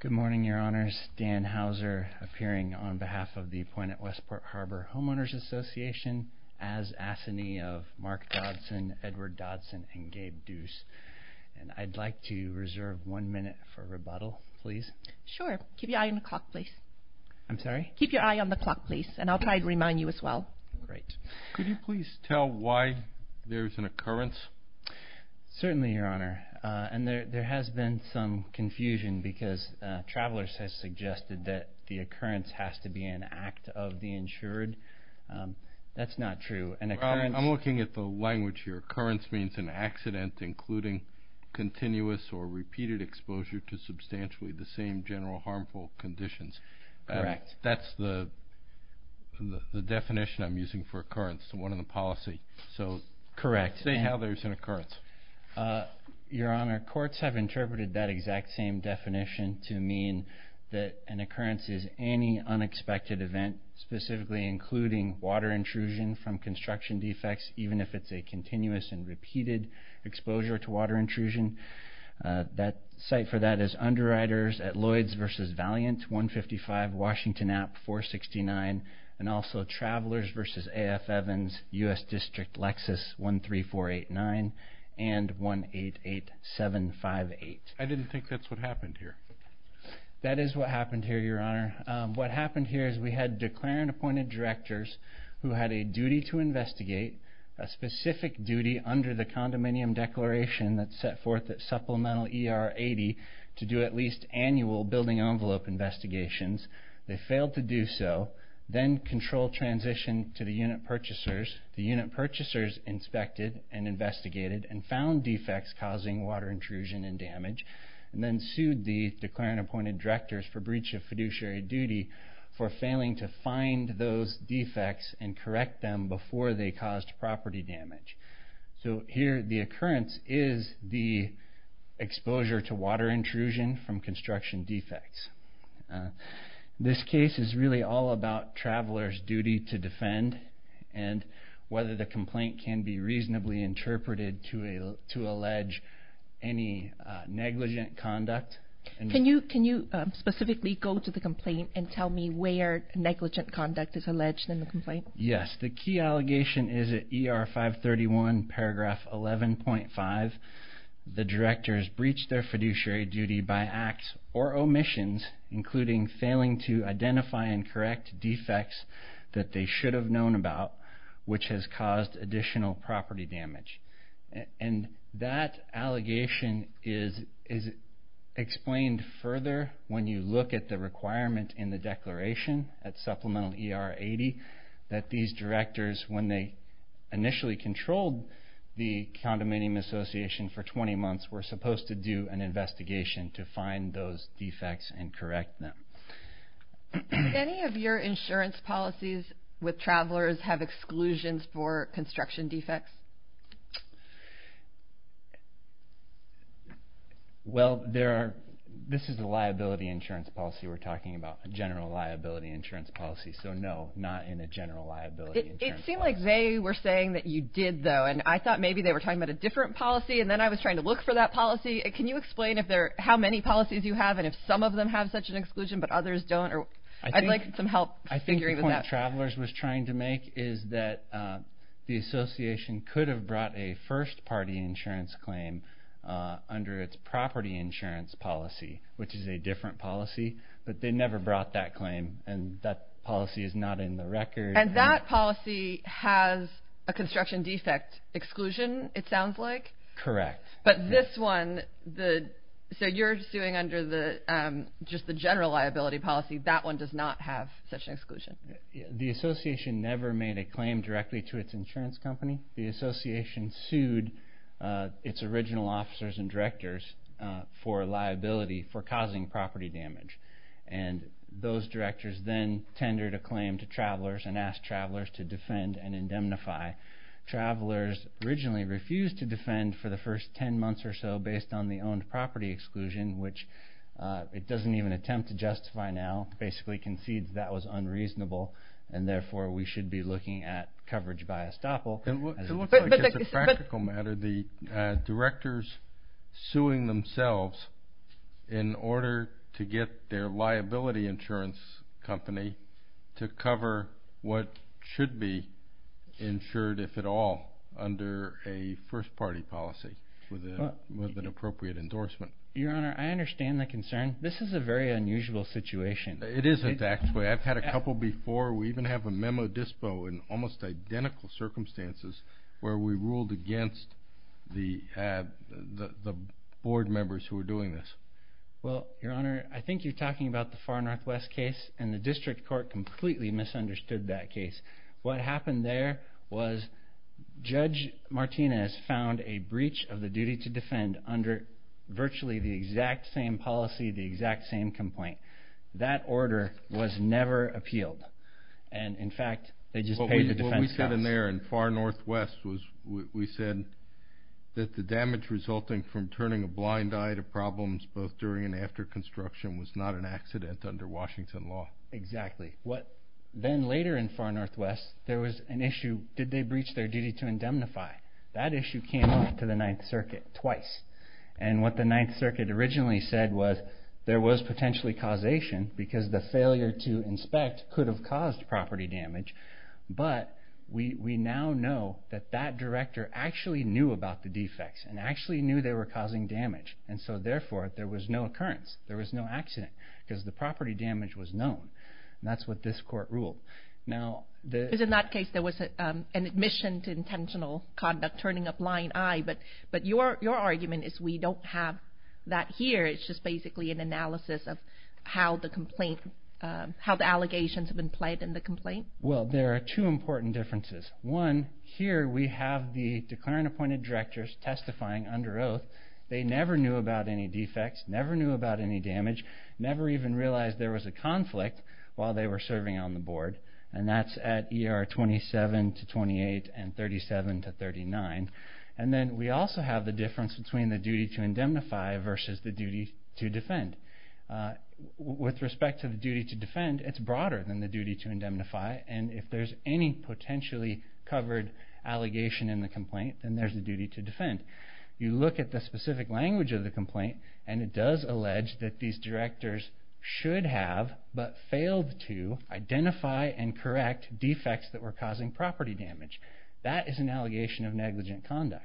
Good morning, Your Honors. Dan Hauser, appearing on behalf of the Point at Westport Harbor Homeowners Association, as Assinee of Mark Dodson, Edward Dodson, and Gabe Deuce. And I'd like to reserve one minute for rebuttal, please. Sure. Keep your eye on the clock, please. I'm sorry? Keep your eye on the clock, please, and I'll try to remind you as well. Great. Could you please tell why there's an occurrence? Certainly, Your Honor. And there has been some confusion because travelers have suggested that the occurrence has to be an act of the insured. That's not true. I'm looking at the language here. Occurrence means an accident, including continuous or repeated exposure to substantially the same general harmful conditions. Correct. That's the definition I'm using for occurrence, the one in the policy. Correct. Why would they say how there's an occurrence? Your Honor, courts have interpreted that exact same definition to mean that an occurrence is any unexpected event, specifically including water intrusion from construction defects, even if it's a continuous and repeated exposure to water intrusion. The site for that is Underwriters at Lloyds v. Valiant, 155 Washington Ave., 469, and also Travelers v. A.F. Evans, U.S. District, Lexus, 13489 and 188758. I didn't think that's what happened here. That is what happened here, Your Honor. What happened here is we had declaring appointed directors who had a duty to investigate a specific duty under the condominium declaration that's set forth at Supplemental ER 80 to do at least annual building envelope investigations. They failed to do so, then controlled transition to the unit purchasers. The unit purchasers inspected and investigated and found defects causing water intrusion and damage, and then sued the declaring appointed directors for breach of fiduciary duty for failing to find those defects and correct them before they caused property damage. Here, the occurrence is the exposure to water intrusion from construction defects. This case is really all about travelers' duty to defend and whether the complaint can be reasonably interpreted to allege any negligent conduct. Can you specifically go to the complaint and tell me where negligent conduct is alleged in the complaint? Yes. The key allegation is at ER 531 paragraph 11.5. The directors breached their fiduciary duty by acts or omissions, including failing to identify and correct defects that they should have known about, which has caused additional property damage. That allegation is explained further when you look at the requirement in the declaration at Supplemental ER 80 that these directors, when they initially controlled the condominium association for 20 months, were supposed to do an investigation to find those defects and correct them. Do any of your insurance policies with travelers have exclusions for construction defects? Well, this is a liability insurance policy. We're talking about a general liability insurance policy. So, no, not in a general liability insurance policy. It seemed like they were saying that you did, though, and I thought maybe they were talking about a different policy, and then I was trying to look for that policy. Can you explain how many policies you have and if some of them have such an exclusion but others don't? I'd like some help figuring that out. I think the point Travelers was trying to make is that the association could have brought a first-party insurance claim under its property insurance policy, which is a different policy, but they never brought that claim, and that policy is not in the record. And that policy has a construction defect exclusion, it sounds like? Correct. But this one, so you're suing under just the general liability policy. That one does not have such an exclusion. The association never made a claim directly to its insurance company. The association sued its original officers and directors for liability for causing property damage, and those directors then tendered a claim to Travelers and asked Travelers to defend and indemnify. Travelers originally refused to defend for the first 10 months or so based on the owned property exclusion, which it doesn't even attempt to justify now. It basically concedes that was unreasonable, and therefore we should be looking at coverage by estoppel. It looks like it's a practical matter. The directors suing themselves in order to get their liability insurance company to cover what should be insured, if at all, under a first-party policy with an appropriate endorsement. Your Honor, I understand the concern. This is a very unusual situation. It is, in fact. I've had a couple before. We even have a memo dispo in almost identical circumstances where we ruled against the board members who were doing this. Well, Your Honor, I think you're talking about the Far Northwest case, and the district court completely misunderstood that case. What happened there was Judge Martinez found a breach of the duty to defend under virtually the exact same policy, the exact same complaint. That order was never appealed, and, in fact, they just paid the defense costs. What we said in there in Far Northwest was we said that the damage resulting from turning a blind eye to problems both during and after construction was not an accident under Washington law. Exactly. Then later in Far Northwest, there was an issue, did they breach their duty to indemnify? That issue came up to the Ninth Circuit twice, and what the Ninth Circuit originally said was there was potentially causation because the failure to inspect could have caused property damage, but we now know that that director actually knew about the defects and actually knew they were causing damage, and so, therefore, there was no occurrence. There was no accident because the property damage was known, and that's what this court ruled. Because in that case, there was an admission to intentional conduct, turning a blind eye, but your argument is we don't have that here. It's just basically an analysis of how the allegations have been played in the complaint. Well, there are two important differences. One, here we have the declaring appointed directors testifying under oath. They never knew about any defects, never knew about any damage, never even realized there was a conflict while they were serving on the board, and that's at ER 27 to 28 and 37 to 39. And then we also have the difference between the duty to indemnify versus the duty to defend. With respect to the duty to defend, it's broader than the duty to indemnify, and if there's any potentially covered allegation in the complaint, then there's a duty to defend. You look at the specific language of the complaint, and it does allege that these directors should have but failed to identify and correct defects that were causing property damage. That is an allegation of negligent conduct.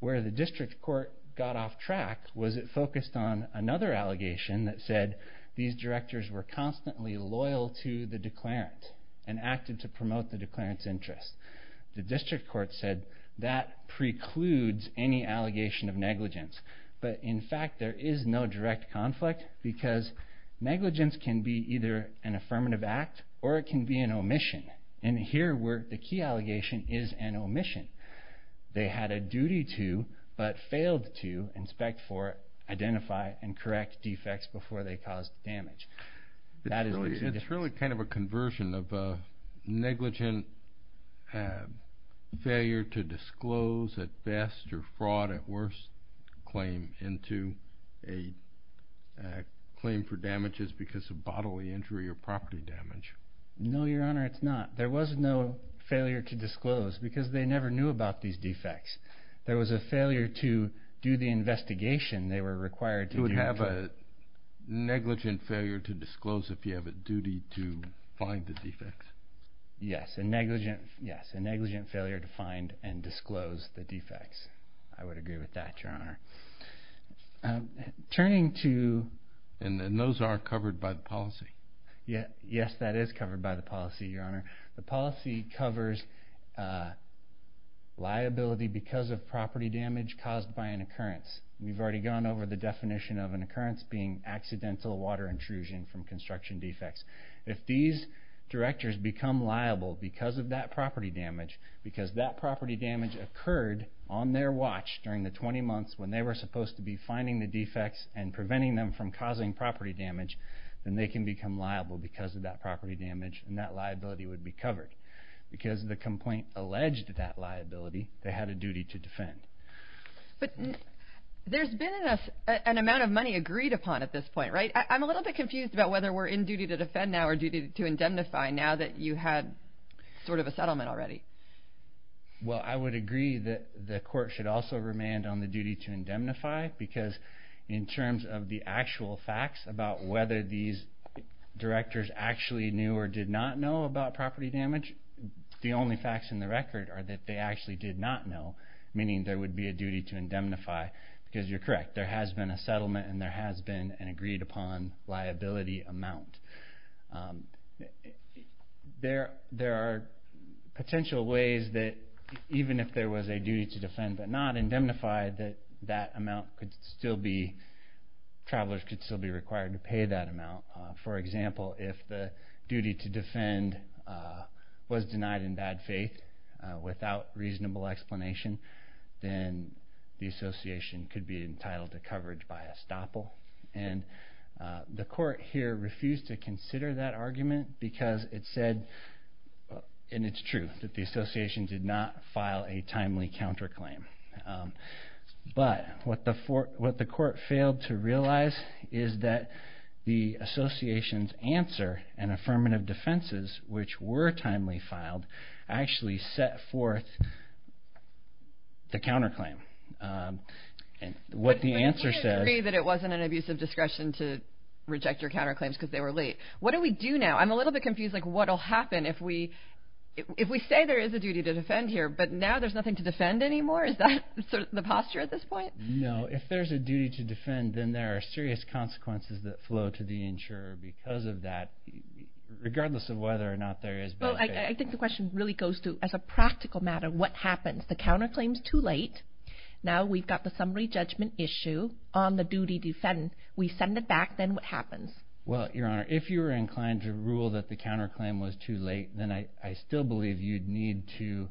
Where the district court got off track was it focused on another allegation that said these directors were constantly loyal to the declarant and acted to promote the declarant's interest. The district court said that precludes any allegation of negligence, but in fact there is no direct conflict because negligence can be either an affirmative act or it can be an omission, and here the key allegation is an omission. They had a duty to but failed to inspect for, identify, and correct defects before they caused damage. It's really kind of a conversion of a negligent failure to disclose at best or fraud at worst claim into a claim for damages because of bodily injury or property damage. No, Your Honor, it's not. There was no failure to disclose because they never knew about these defects. There was a failure to do the investigation they were required to do. You would have a negligent failure to disclose if you have a duty to find the defects. Yes, a negligent failure to find and disclose the defects. I would agree with that, Your Honor. And those aren't covered by the policy? Yes, that is covered by the policy, Your Honor. The policy covers liability because of property damage caused by an occurrence. We've already gone over the definition of an occurrence being accidental water intrusion from construction defects. If these directors become liable because of that property damage, because that property damage occurred on their watch during the 20 months when they were supposed to be finding the defects and preventing them from causing property damage, then they can become liable because of that property damage and that liability would be covered. Because the complaint alleged that liability, they had a duty to defend. But there's been an amount of money agreed upon at this point, right? I'm a little bit confused about whether we're in duty to defend now or duty to indemnify now that you had sort of a settlement already. Well, I would agree that the court should also remand on the duty to indemnify because in terms of the actual facts about whether these directors actually knew or did not know about property damage, the only facts in the record are that they actually did not know, meaning there would be a duty to indemnify because you're correct. There has been a settlement and there has been an agreed upon liability amount. There are potential ways that even if there was a duty to defend but not indemnify, that that amount could still be, travelers could still be required to pay that amount. For example, if the duty to defend was denied in bad faith without reasonable explanation, then the association could be entitled to coverage by estoppel. And the court here refused to consider that argument because it said, and it's true, that the association did not file a timely counterclaim. But what the court failed to realize is that the association's answer and affirmative defenses, which were timely filed, actually set forth the counterclaim. And what the answer says... But you can't agree that it wasn't an abuse of discretion to reject your counterclaims because they were late. What do we do now? I'm a little bit confused, like what will happen if we say there is a duty to defend here, but now there's nothing to defend anymore? Is that sort of the posture at this point? No. If there's a duty to defend, then there are serious consequences that flow to the insurer because of that. Regardless of whether or not there is bad faith. Well, I think the question really goes to, as a practical matter, what happens? The counterclaim's too late. Now we've got the summary judgment issue on the duty to defend. We send it back. Then what happens? Well, Your Honor, if you were inclined to rule that the counterclaim was too late, then I still believe you'd need to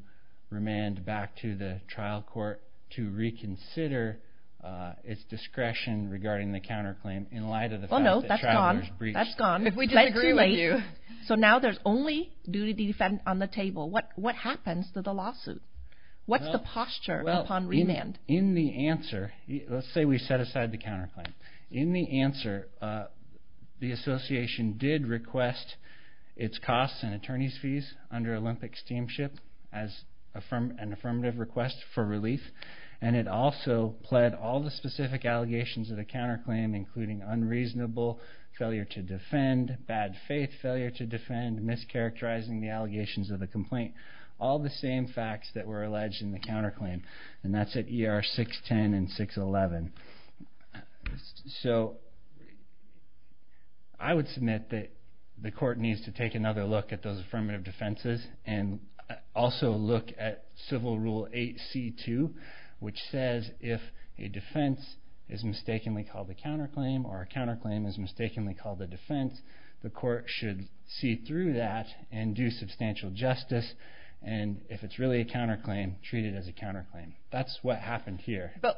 remand back to the trial court to reconsider its discretion regarding the counterclaim in light of the fact that travelers breached... So now there's only duty to defend on the table. What happens to the lawsuit? What's the posture upon remand? Well, in the answer, let's say we set aside the counterclaim. In the answer, the association did request its costs and attorney's fees under Olympic Steamship as an affirmative request for relief, and it also pled all the specific allegations of the counterclaim, including unreasonable failure to defend, bad faith failure to defend, mischaracterizing the allegations of the complaint, all the same facts that were alleged in the counterclaim, and that's at ER 610 and 611. So I would submit that the court needs to take another look at those affirmative defenses and also look at Civil Rule 8C2, which says if a defense is mistakenly called a counterclaim or a counterclaim is mistakenly called a defense, the court should see through that and do substantial justice, and if it's really a counterclaim, treat it as a counterclaim. That's what happened here. But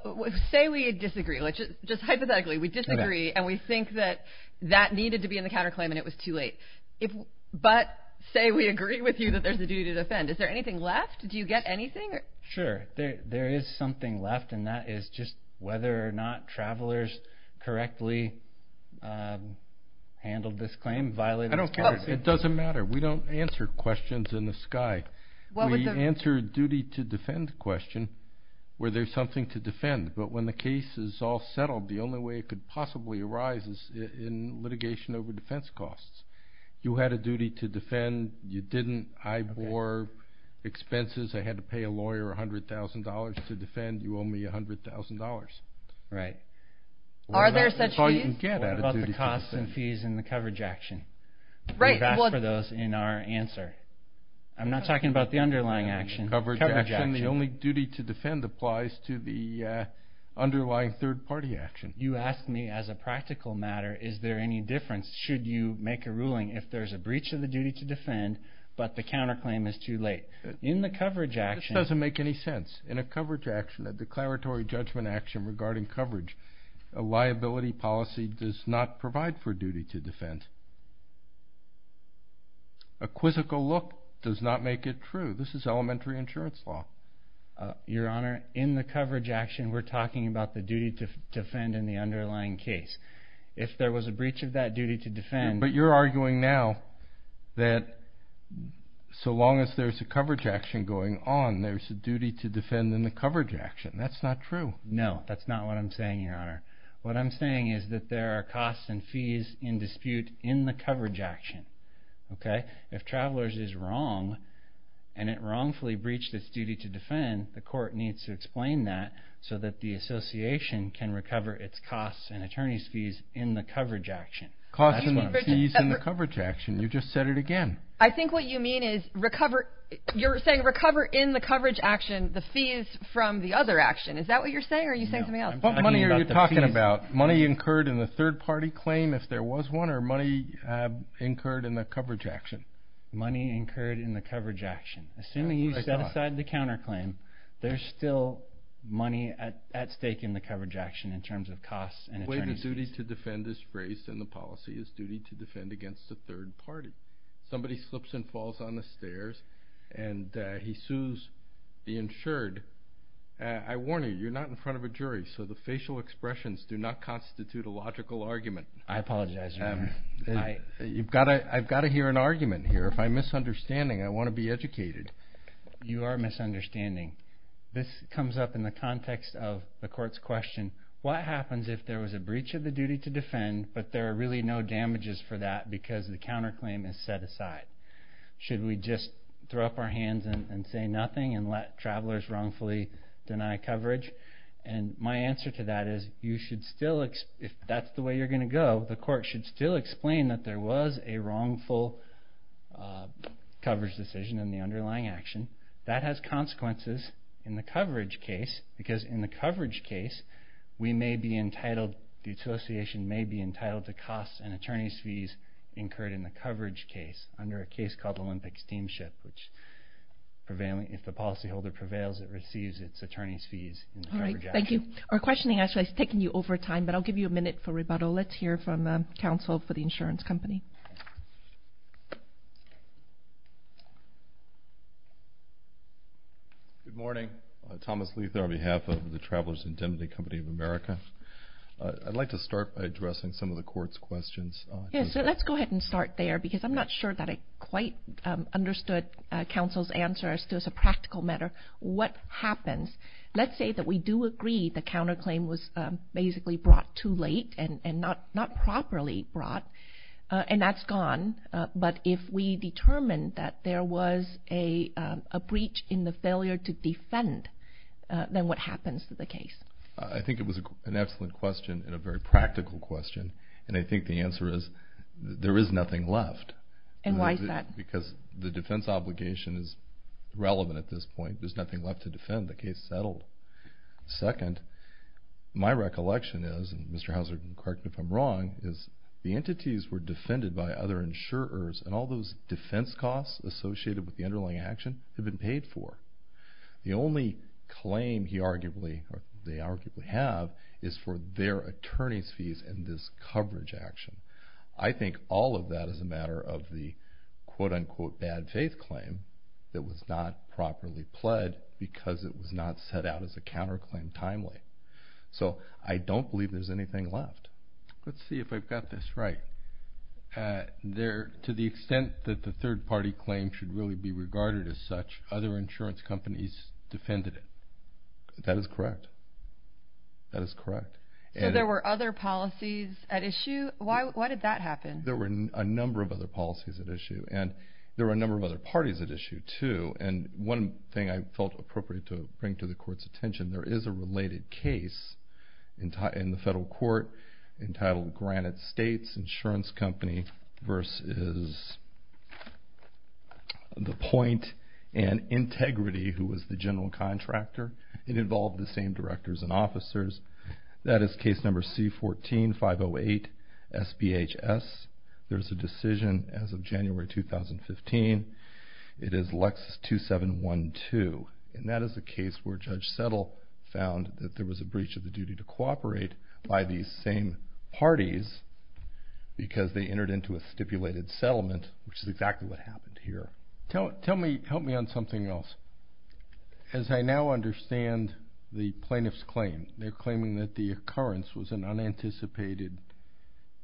say we disagree. Just hypothetically, we disagree, and we think that that needed to be in the counterclaim and it was too late. But say we agree with you that there's a duty to defend. Is there anything left? Do you get anything? Sure. There is something left, and that is just whether or not travelers correctly handled this claim, violated this clause. It doesn't matter. We don't answer questions in the sky. We answer a duty to defend question where there's something to defend, but when the case is all settled, the only way it could possibly arise is in litigation over defense costs. You had a duty to defend. You didn't. I bore expenses. I had to pay a lawyer $100,000 to defend. You owe me $100,000. Right. Are there such fees? That's all you can get at a duty to defend. What about the costs and fees in the coverage action? Right. We've asked for those in our answer. I'm not talking about the underlying action. In the coverage action, the only duty to defend applies to the underlying third-party action. You ask me as a practical matter, is there any difference should you make a ruling if there's a breach of the duty to defend, but the counterclaim is too late? In the coverage action— This doesn't make any sense. In a coverage action, a declaratory judgment action regarding coverage, a liability policy does not provide for duty to defend. A quizzical look does not make it true. This is elementary insurance law. Your Honor, in the coverage action, we're talking about the duty to defend in the underlying case. If there was a breach of that duty to defend— But you're arguing now that so long as there's a coverage action going on, there's a duty to defend in the coverage action. That's not true. No, that's not what I'm saying, Your Honor. What I'm saying is that there are costs and fees in dispute in the coverage action. If Travelers is wrong and it wrongfully breached its duty to defend, the court needs to explain that so that the association can recover its costs and attorneys' fees in the coverage action. Costs and fees in the coverage action. You just said it again. I think what you mean is recover— you're saying recover in the coverage action the fees from the other action. Is that what you're saying or are you saying something else? What money are you talking about? Money incurred in the third-party claim, if there was one, or money incurred in the coverage action? Money incurred in the coverage action. Assuming you set aside the counterclaim, there's still money at stake in the coverage action in terms of costs and attorneys' fees. The way the duty to defend is raised in the policy is duty to defend against the third party. Somebody slips and falls on the stairs and he sues the insured. I warn you, you're not in front of a jury, so the facial expressions do not constitute a logical argument. I apologize, Your Honor. I've got to hear an argument here. If I'm misunderstanding, I want to be educated. You are misunderstanding. This comes up in the context of the court's question, what happens if there was a breach of the duty to defend but there are really no damages for that because the counterclaim is set aside? Should we just throw up our hands and say nothing and let travelers wrongfully deny coverage? My answer to that is if that's the way you're going to go, the court should still explain that there was a wrongful coverage decision in the underlying action. That has consequences in the coverage case because in the coverage case, the association may be entitled to costs and attorneys' fees incurred in the coverage case under a case called Olympic Steamship. If the policyholder prevails, it receives its attorney's fees. Thank you. Our questioning actually has taken you over time, but I'll give you a minute for rebuttal. Let's hear from counsel for the insurance company. Good morning. Thomas Leather on behalf of the Travelers' Indemnity Company of America. I'd like to start by addressing some of the court's questions. Let's go ahead and start there because I'm not sure that I quite understood counsel's answer as to a practical matter. What happens? Let's say that we do agree the counterclaim was basically brought too late and not properly brought and that's gone, but if we determine that there was a breach in the failure to defend, then what happens to the case? I think it was an excellent question and a very practical question, and I think the answer is there is nothing left. And why is that? Because the defense obligation is relevant at this point. There's nothing left to defend. The case is settled. Second, my recollection is, and Mr. Hauser, correct me if I'm wrong, is the entities were defended by other insurers and all those defense costs associated with the underlying action have been paid for. The only claim they arguably have is for their attorney's fees in this coverage action. I think all of that is a matter of the quote-unquote bad faith claim that was not properly pled because it was not set out as a counterclaim timely. So I don't believe there's anything left. Let's see if I've got this right. To the extent that the third-party claim should really be regarded as such, other insurance companies defended it. That is correct. That is correct. So there were other policies at issue? Why did that happen? There were a number of other policies at issue, and there were a number of other parties at issue too. And one thing I felt appropriate to bring to the Court's attention, there is a related case in the federal court entitled Granite States Insurance Company versus The Point and Integrity, who was the general contractor. It involved the same directors and officers. That is case number C14-508-SBHS. There's a decision as of January 2015. It is Lexus 2712, and that is the case where Judge Settle found that there was a breach of the duty to cooperate by these same parties because they entered into a stipulated settlement, which is exactly what happened here. Help me on something else. As I now understand the plaintiff's claim, they're claiming that the occurrence was an unanticipated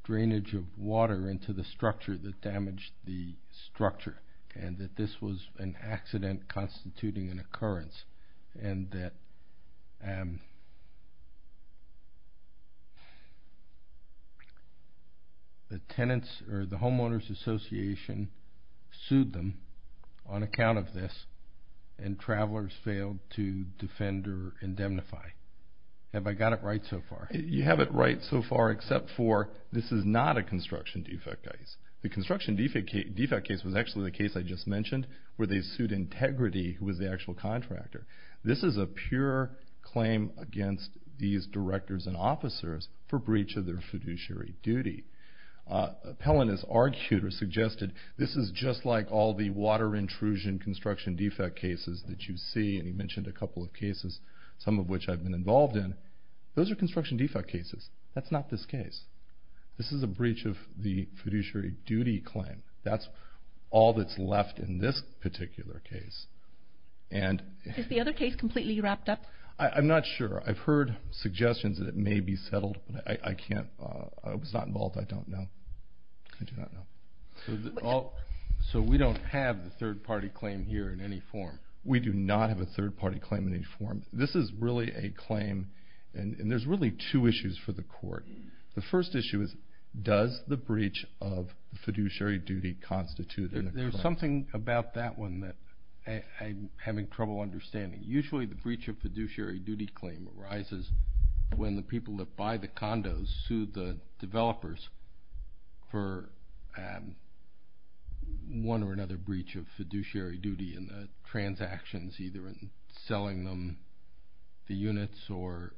drainage of water into the structure that damaged the structure and that this was an accident constituting an occurrence and that the tenants or the homeowners association sued them on account of this and travelers failed to defend or indemnify. Have I got it right so far? You have it right so far except for this is not a construction defect case. The construction defect case was actually the case I just mentioned where they sued Integrity, who was the actual contractor. This is a pure claim against these directors and officers for breach of their fiduciary duty. Appellant has argued or suggested this is just like all the water intrusion construction defect cases that you see, and he mentioned a couple of cases, some of which I've been involved in. Those are construction defect cases. That's not this case. This is a breach of the fiduciary duty claim. That's all that's left in this particular case. Is the other case completely wrapped up? I'm not sure. I've heard suggestions that it may be settled, but I was not involved. I don't know. I do not know. So we don't have the third-party claim here in any form? We do not have a third-party claim in any form. This is really a claim, and there's really two issues for the court. The first issue is, does the breach of fiduciary duty constitute a claim? There's something about that one that I'm having trouble understanding. Usually the breach of fiduciary duty claim arises when the people that buy the condos sue the developers for one or another breach of fiduciary duty in the transactions, either in selling them the units or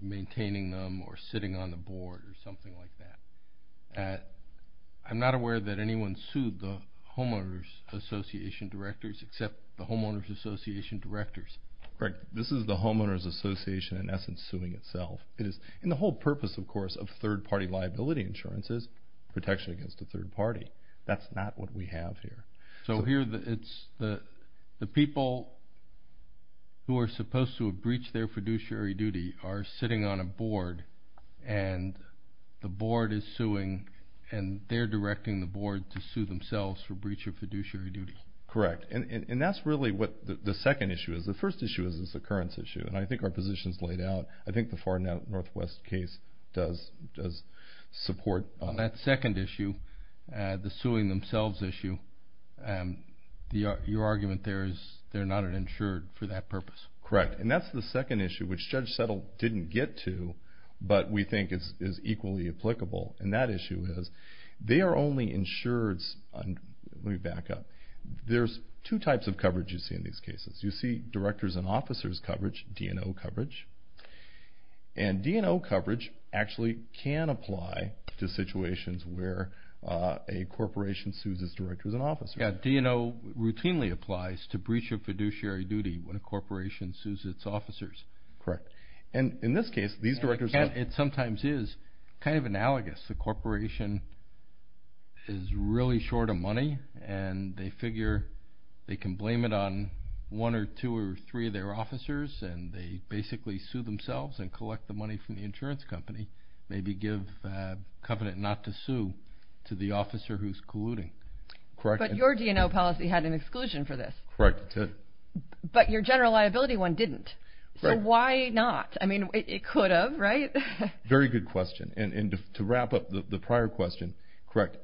maintaining them or sitting on the board or something like that. I'm not aware that anyone sued the homeowners association directors except the homeowners association directors. This is the homeowners association, in essence, suing itself. And the whole purpose, of course, of third-party liability insurance is protection against a third party. That's not what we have here. So here it's the people who are supposed to have breached their fiduciary duty are sitting on a board, and the board is suing, and they're directing the board to sue themselves for breach of fiduciary duty. Correct. And that's really what the second issue is. The first issue is this occurrence issue, and I think our position is laid out. I think the Far Northwest case does support that. On that second issue, the suing themselves issue, your argument there is they're not insured for that purpose. Correct. And that's the second issue, which Judge Settle didn't get to, but we think is equally applicable, and that issue is they are only insured. Let me back up. There's two types of coverage you see in these cases. You see directors and officers coverage, D&O coverage. And D&O coverage actually can apply to situations where a corporation sues its directors and officers. Yeah, D&O routinely applies to breach of fiduciary duty when a corporation sues its officers. Correct. And in this case, these directors have. It sometimes is kind of analogous. The corporation is really short of money, and they figure they can blame it on one or two or three of their officers, and they basically sue themselves and collect the money from the insurance company, maybe give a covenant not to sue to the officer who's colluding. Correct. But your D&O policy had an exclusion for this. Correct. But your general liability one didn't. So why not? I mean, it could have, right? Very good question. And to wrap up the prior question, correct,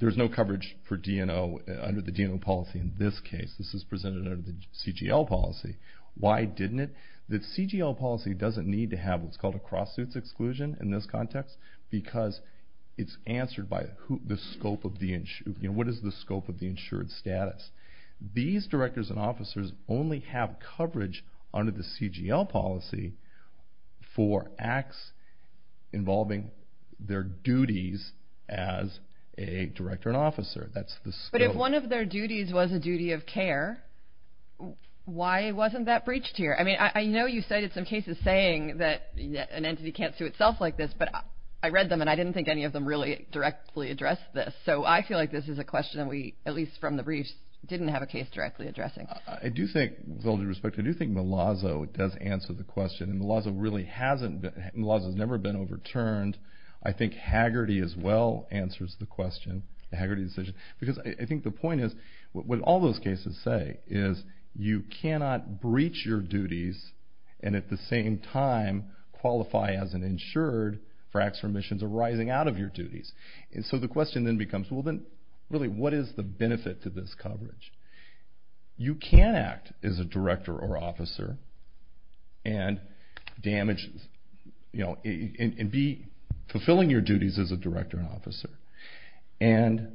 there's no coverage for D&O under the D&O policy in this case. This is presented under the CGL policy. Why didn't it? The CGL policy doesn't need to have what's called a cross-suits exclusion in this context because it's answered by what is the scope of the insured status. These directors and officers only have coverage under the CGL policy for acts involving their duties as a director and officer. That's the scope. If one of their duties was a duty of care, why wasn't that breached here? I mean, I know you cited some cases saying that an entity can't sue itself like this, but I read them and I didn't think any of them really directly addressed this. So I feel like this is a question that we, at least from the briefs, didn't have a case directly addressing. I do think, with all due respect, I do think Malazzo does answer the question. Malazzo really hasn't. Malazzo's never been overturned. I think Hagerty as well answers the question, the Hagerty decision, because I think the point is what all those cases say is you cannot breach your duties and at the same time qualify as an insured for acts or omissions arising out of your duties. So the question then becomes, well, then, really, what is the benefit to this coverage? You can act as a director or officer and be fulfilling your duties as a director and officer. And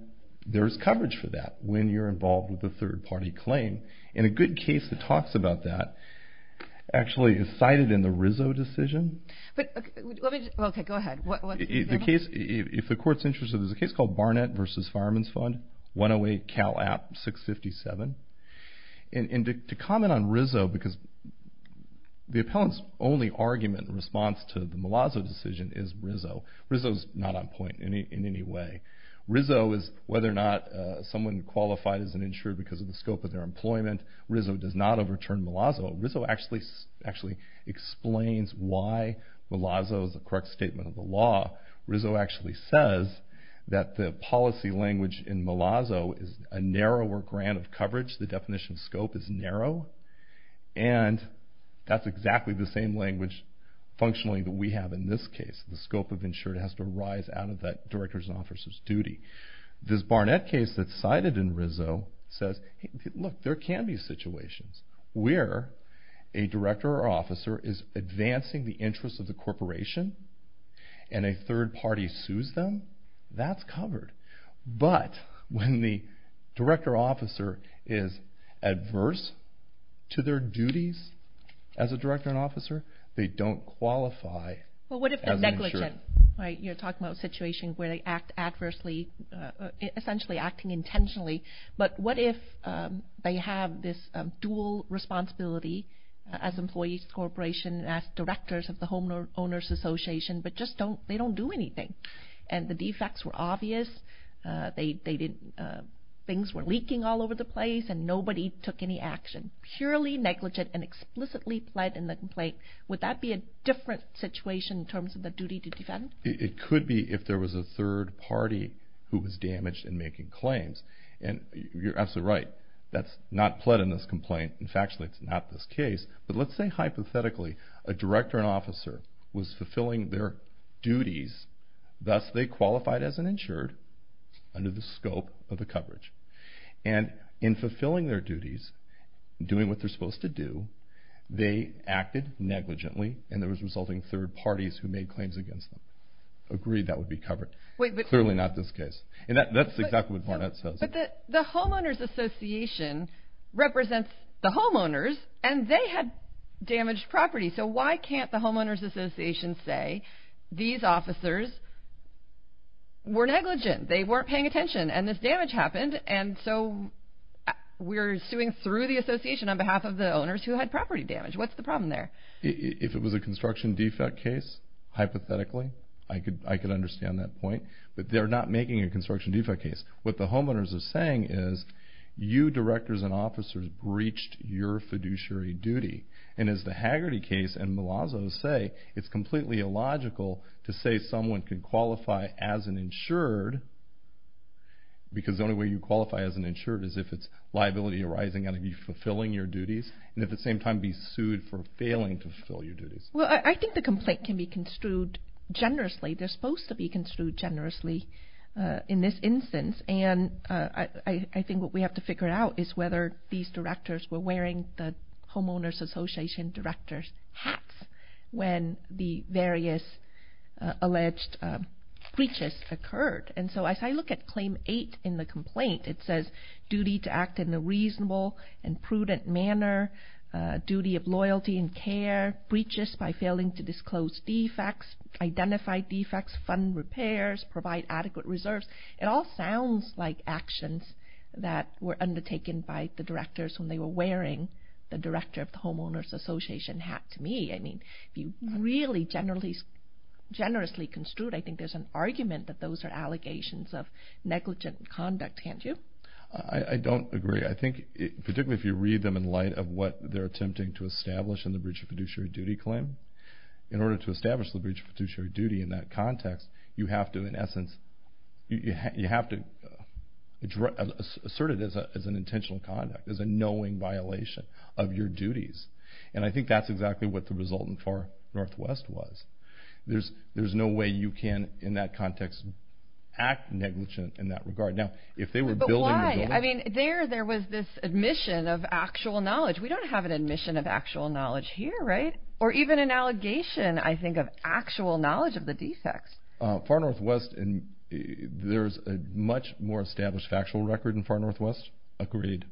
there's coverage for that when you're involved with a third-party claim. And a good case that talks about that actually is cited in the Rizzo decision. Okay, go ahead. If the court's interested, there's a case called Barnett v. Fireman's Fund, 108 Cal App 657. And to comment on Rizzo, because the appellant's only argument in response to the Malazzo decision is Rizzo. Rizzo's not on point in any way. Rizzo is whether or not someone qualified as an insured because of the scope of their employment. Rizzo does not overturn Malazzo. Rizzo actually explains why Malazzo is the correct statement of the law. Rizzo actually says that the policy language in Malazzo is a narrower grant of coverage. The definition of scope is narrow. And that's exactly the same language functionally that we have in this case. The scope of insured has to rise out of that director's and officer's duty. This Barnett case that's cited in Rizzo says, look, there can be situations where a director or officer is advancing the interests of the corporation, and a third party sues them. That's covered. But when the director or officer is adverse to their duties as a director and officer, they don't qualify as an insured. Well, what if they're negligent? You're talking about a situation where they act adversely, essentially acting intentionally. But what if they have this dual responsibility as employees of the corporation, as directors of the homeowners association, but they don't do anything, and the defects were obvious, things were leaking all over the place, and nobody took any action? Purely negligent and explicitly pled in the complaint. Would that be a different situation in terms of the duty to defend? It could be if there was a third party who was damaged in making claims. And you're absolutely right. That's not pled in this complaint. In fact, it's not this case. But let's say hypothetically a director and officer was fulfilling their duties, thus they qualified as an insured under the scope of the coverage. And in fulfilling their duties, doing what they're supposed to do, they acted negligently and there was resulting third parties who made claims against them. Agreed that would be covered. Clearly not this case. And that's exactly what Barnett says. But the homeowners association represents the homeowners, and they had damaged property. So why can't the homeowners association say these officers were negligent, they weren't paying attention, and this damage happened, and so we're suing through the association on behalf of the owners who had property damage. What's the problem there? If it was a construction defect case, hypothetically, I could understand that point. But they're not making a construction defect case. What the homeowners are saying is you directors and officers breached your fiduciary duty. And as the Haggerty case and Malazzo say, it's completely illogical to say someone can qualify as an insured because the only way you qualify as an insured is if it's liability arising out of you fulfilling your duties and at the same time be sued for failing to fulfill your duties. Well, I think the complaint can be construed generously. They're supposed to be construed generously in this instance. And I think what we have to figure out is whether these directors were wearing the homeowners association director's hats when the various alleged breaches occurred. And so as I look at Claim 8 in the complaint, it says, duty to act in a reasonable and prudent manner, duty of loyalty and care, breaches by failing to disclose defects, identify defects, fund repairs, provide adequate reserves. It all sounds like actions that were undertaken by the directors when they were wearing the director of the homeowners association hat to me. I mean, if you really generously construed, I think there's an argument that those are allegations of negligent conduct. Can't you? I don't agree. I think particularly if you read them in light of what they're attempting to establish in the breach of fiduciary duty claim, in order to establish the breach of fiduciary duty in that context, you have to, in essence, you have to assert it as an intentional conduct, as a knowing violation of your duties. And I think that's exactly what the result in Far Northwest was. There's no way you can, in that context, act negligent in that regard. Now, if they were building, I mean, there, there was this admission of actual knowledge. We don't have an admission of actual knowledge here. Right. Or even an allegation, I think, of actual knowledge of the defects. Far Northwest. And there's a much more established factual record in Far Northwest. Agreed.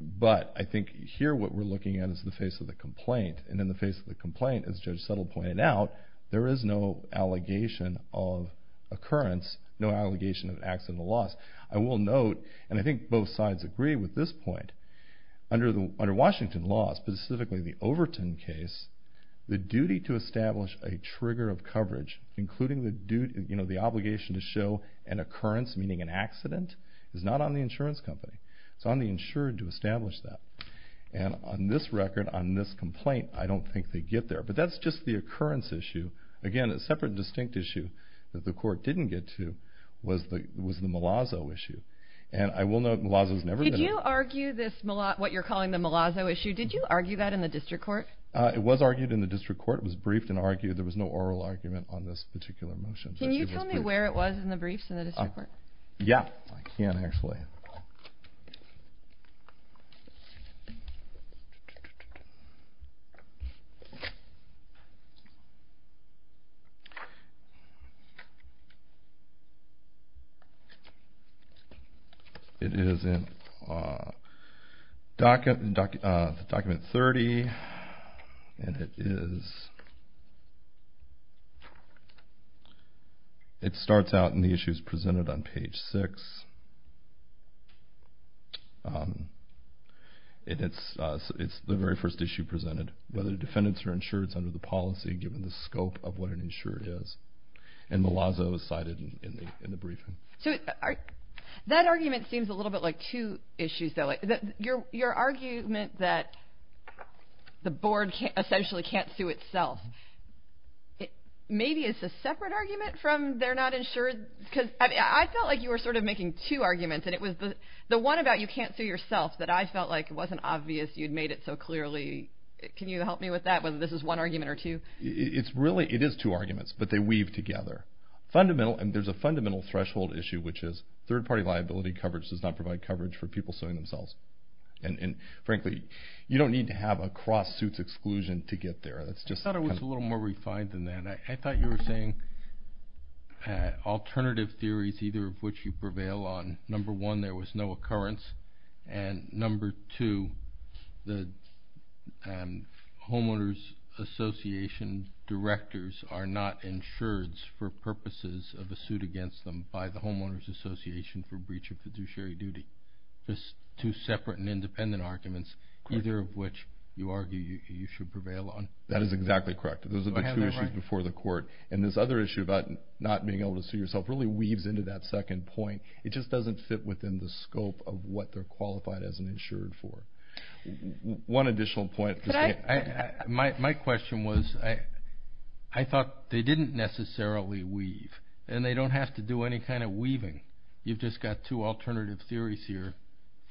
But I think here what we're looking at is the face of the complaint. And in the face of the complaint, as Judge Settle pointed out, there is no allegation of occurrence, no allegation of accidental loss. I will note, and I think both sides agree with this point, under Washington law, specifically the Overton case, the duty to establish a trigger of coverage, including the obligation to show an occurrence, meaning an accident, is not on the insurance company. It's on the insurer to establish that. And on this record, on this complaint, I don't think they get there. But that's just the occurrence issue. Again, a separate, distinct issue that the court didn't get to was the Malazzo issue. And I will note Malazzo's never been argued. Did you argue this, what you're calling the Malazzo issue, did you argue that in the district court? It was argued in the district court. It was briefed and argued. There was no oral argument on this particular motion. Can you tell me where it was in the briefs in the district court? Yeah, I can, actually. It is in document 30. And it is, it starts out in the issues presented on page 6. It's the very first issue presented, whether defendants are insured under the policy, given the scope of what an insured is. And Malazzo is cited in the briefing. That argument seems a little bit like two issues, though. Your argument that the board essentially can't sue itself, maybe it's a separate argument from they're not insured? Because I felt like you were sort of making two arguments. And it was the one about you can't sue yourself that I felt like wasn't obvious. You'd made it so clearly. Can you help me with that, whether this is one argument or two? It's really, it is two arguments, but they weave together. Fundamental, and there's a fundamental threshold issue, which is third-party liability coverage does not provide coverage for people suing themselves. And, frankly, you don't need to have a cross-suits exclusion to get there. I thought it was a little more refined than that. I thought you were saying alternative theories, either of which you prevail on. Number one, there was no occurrence. And number two, the homeowners association directors are not insured for purposes of a suit against them by the homeowners association for breach of fiduciary duty. Just two separate and independent arguments, either of which you argue you should prevail on. That is exactly correct. Those are the two issues before the court. And this other issue about not being able to sue yourself really weaves into that second point. It just doesn't fit within the scope of what they're qualified as and insured for. One additional point. My question was, I thought they didn't necessarily weave, and they don't have to do any kind of weaving. You've just got two alternative theories here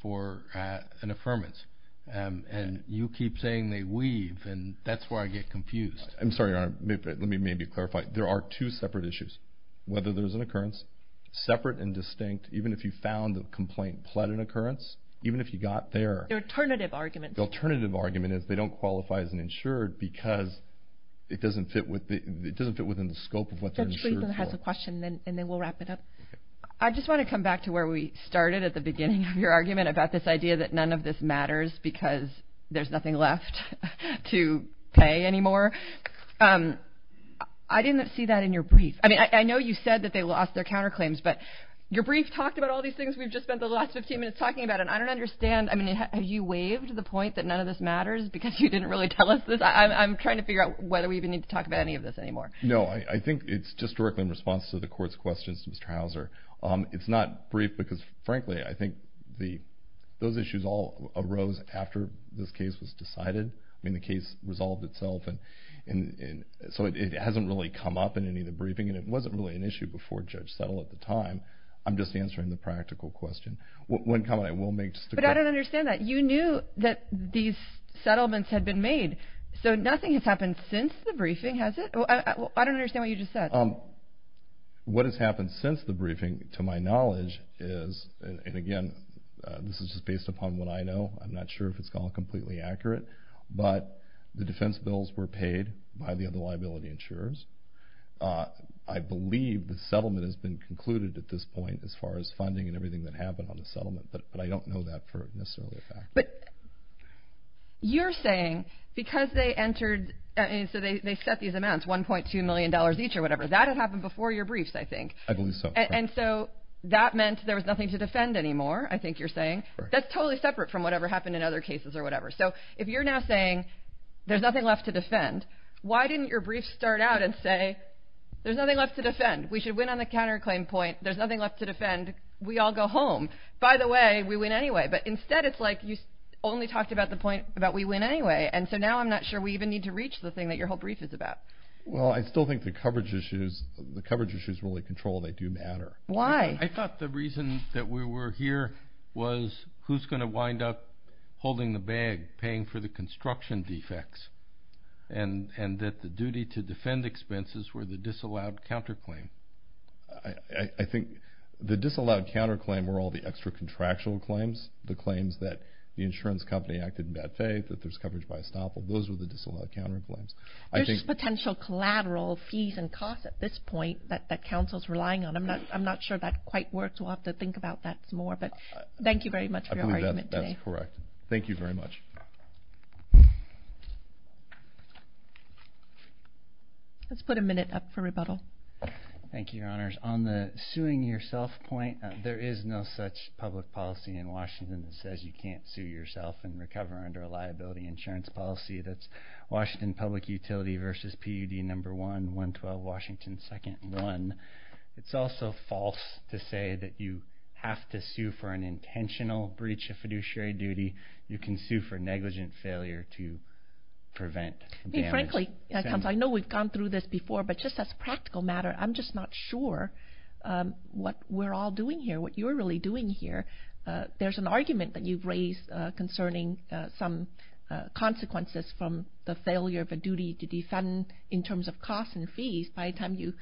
for an affirmance. And you keep saying they weave, and that's where I get confused. I'm sorry, Your Honor. Let me maybe clarify. There are two separate issues. Whether there's an occurrence, separate and distinct, even if you found the complaint pled an occurrence, even if you got there. The alternative argument. The alternative argument is they don't qualify as an insured because it doesn't fit within the scope of what they're insured for. That's reasonable. It has a question, and then we'll wrap it up. I just want to come back to where we started at the beginning of your argument about this idea that none of this matters because there's nothing left to pay anymore. I didn't see that in your brief. I mean, I know you said that they lost their counterclaims, but your brief talked about all these things we've just spent the last 15 minutes talking about, and I don't understand. I mean, have you waived the point that none of this matters because you didn't really tell us this? I'm trying to figure out whether we even need to talk about any of this anymore. No, I think it's just directly in response to the Court's questions to Mr. Hauser. It's not brief because, frankly, I think those issues all arose after this case was decided. I mean, the case resolved itself, so it hasn't really come up in any of the briefing, and it wasn't really an issue before Judge Settle at the time. I'm just answering the practical question. One comment I will make just to clarify. But I don't understand that. You knew that these settlements had been made, so nothing has happened since the briefing, has it? I don't understand what you just said. What has happened since the briefing, to my knowledge, is, and again, this is just based upon what I know. I'm not sure if it's gone completely accurate, but the defense bills were paid by the other liability insurers. I believe the settlement has been concluded at this point as far as funding and everything that happened on the settlement, but I don't know that for necessarily a fact. But you're saying because they entered, so they set these amounts, $1.2 million each or whatever. That had happened before your briefs, I think. I believe so. And so that meant there was nothing to defend anymore, I think you're saying. That's totally separate from whatever happened in other cases or whatever. So if you're now saying there's nothing left to defend, why didn't your briefs start out and say, there's nothing left to defend. We should win on the counterclaim point. There's nothing left to defend. We all go home. By the way, we win anyway. But instead it's like you only talked about the point about we win anyway, and so now I'm not sure we even need to reach the thing that your whole brief is about. Well, I still think the coverage issues really control. They do matter. Why? I thought the reason that we were here was who's going to wind up holding the bag, paying for the construction defects, and that the duty to defend expenses were the disallowed counterclaim. I think the disallowed counterclaim were all the extra contractual claims, the claims that the insurance company acted in bad faith, that there's coverage by estoppel. Those were the disallowed counterclaims. There's potential collateral fees and costs at this point that counsel's relying on. I'm not sure that quite works. We'll have to think about that some more. But thank you very much for your argument today. I believe that's correct. Thank you very much. Let's put a minute up for rebuttal. Thank you, Your Honors. On the suing yourself point, there is no such public policy in Washington that says you can't sue yourself and recover under a liability insurance policy. That's Washington Public Utility v. PUD No. 1, 112 Washington 2nd and 1. It's also false to say that you have to sue for an intentional breach of fiduciary duty. You can sue for negligent failure to prevent damage. Frankly, counsel, I know we've gone through this before, but just as a practical matter, I'm just not sure what we're all doing here, what you're really doing here. There's an argument that you've raised concerning some consequences from the failure of a duty to defend in terms of costs and fees. By the time you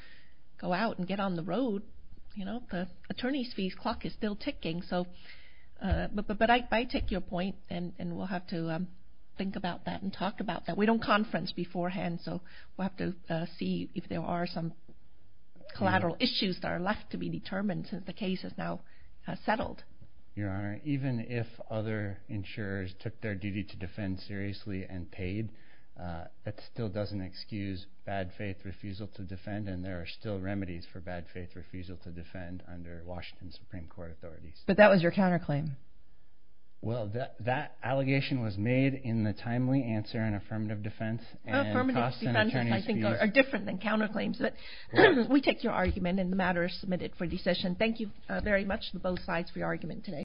go out and get on the road, the attorney's fees clock is still ticking. But I take your point, and we'll have to think about that and talk about that. We don't conference beforehand, so we'll have to see if there are some collateral issues that are left to be determined since the case is now settled. Your Honor, even if other insurers took their duty to defend seriously and paid, that still doesn't excuse bad faith refusal to defend, and there are still remedies for bad faith refusal to defend under Washington Supreme Court authorities. But that was your counterclaim. Well, that allegation was made in the timely answer in affirmative defense. Affirmative defense, I think, are different than counterclaims. But we take your argument, and the matter is submitted for decision. Thank you very much to both sides for your argument today.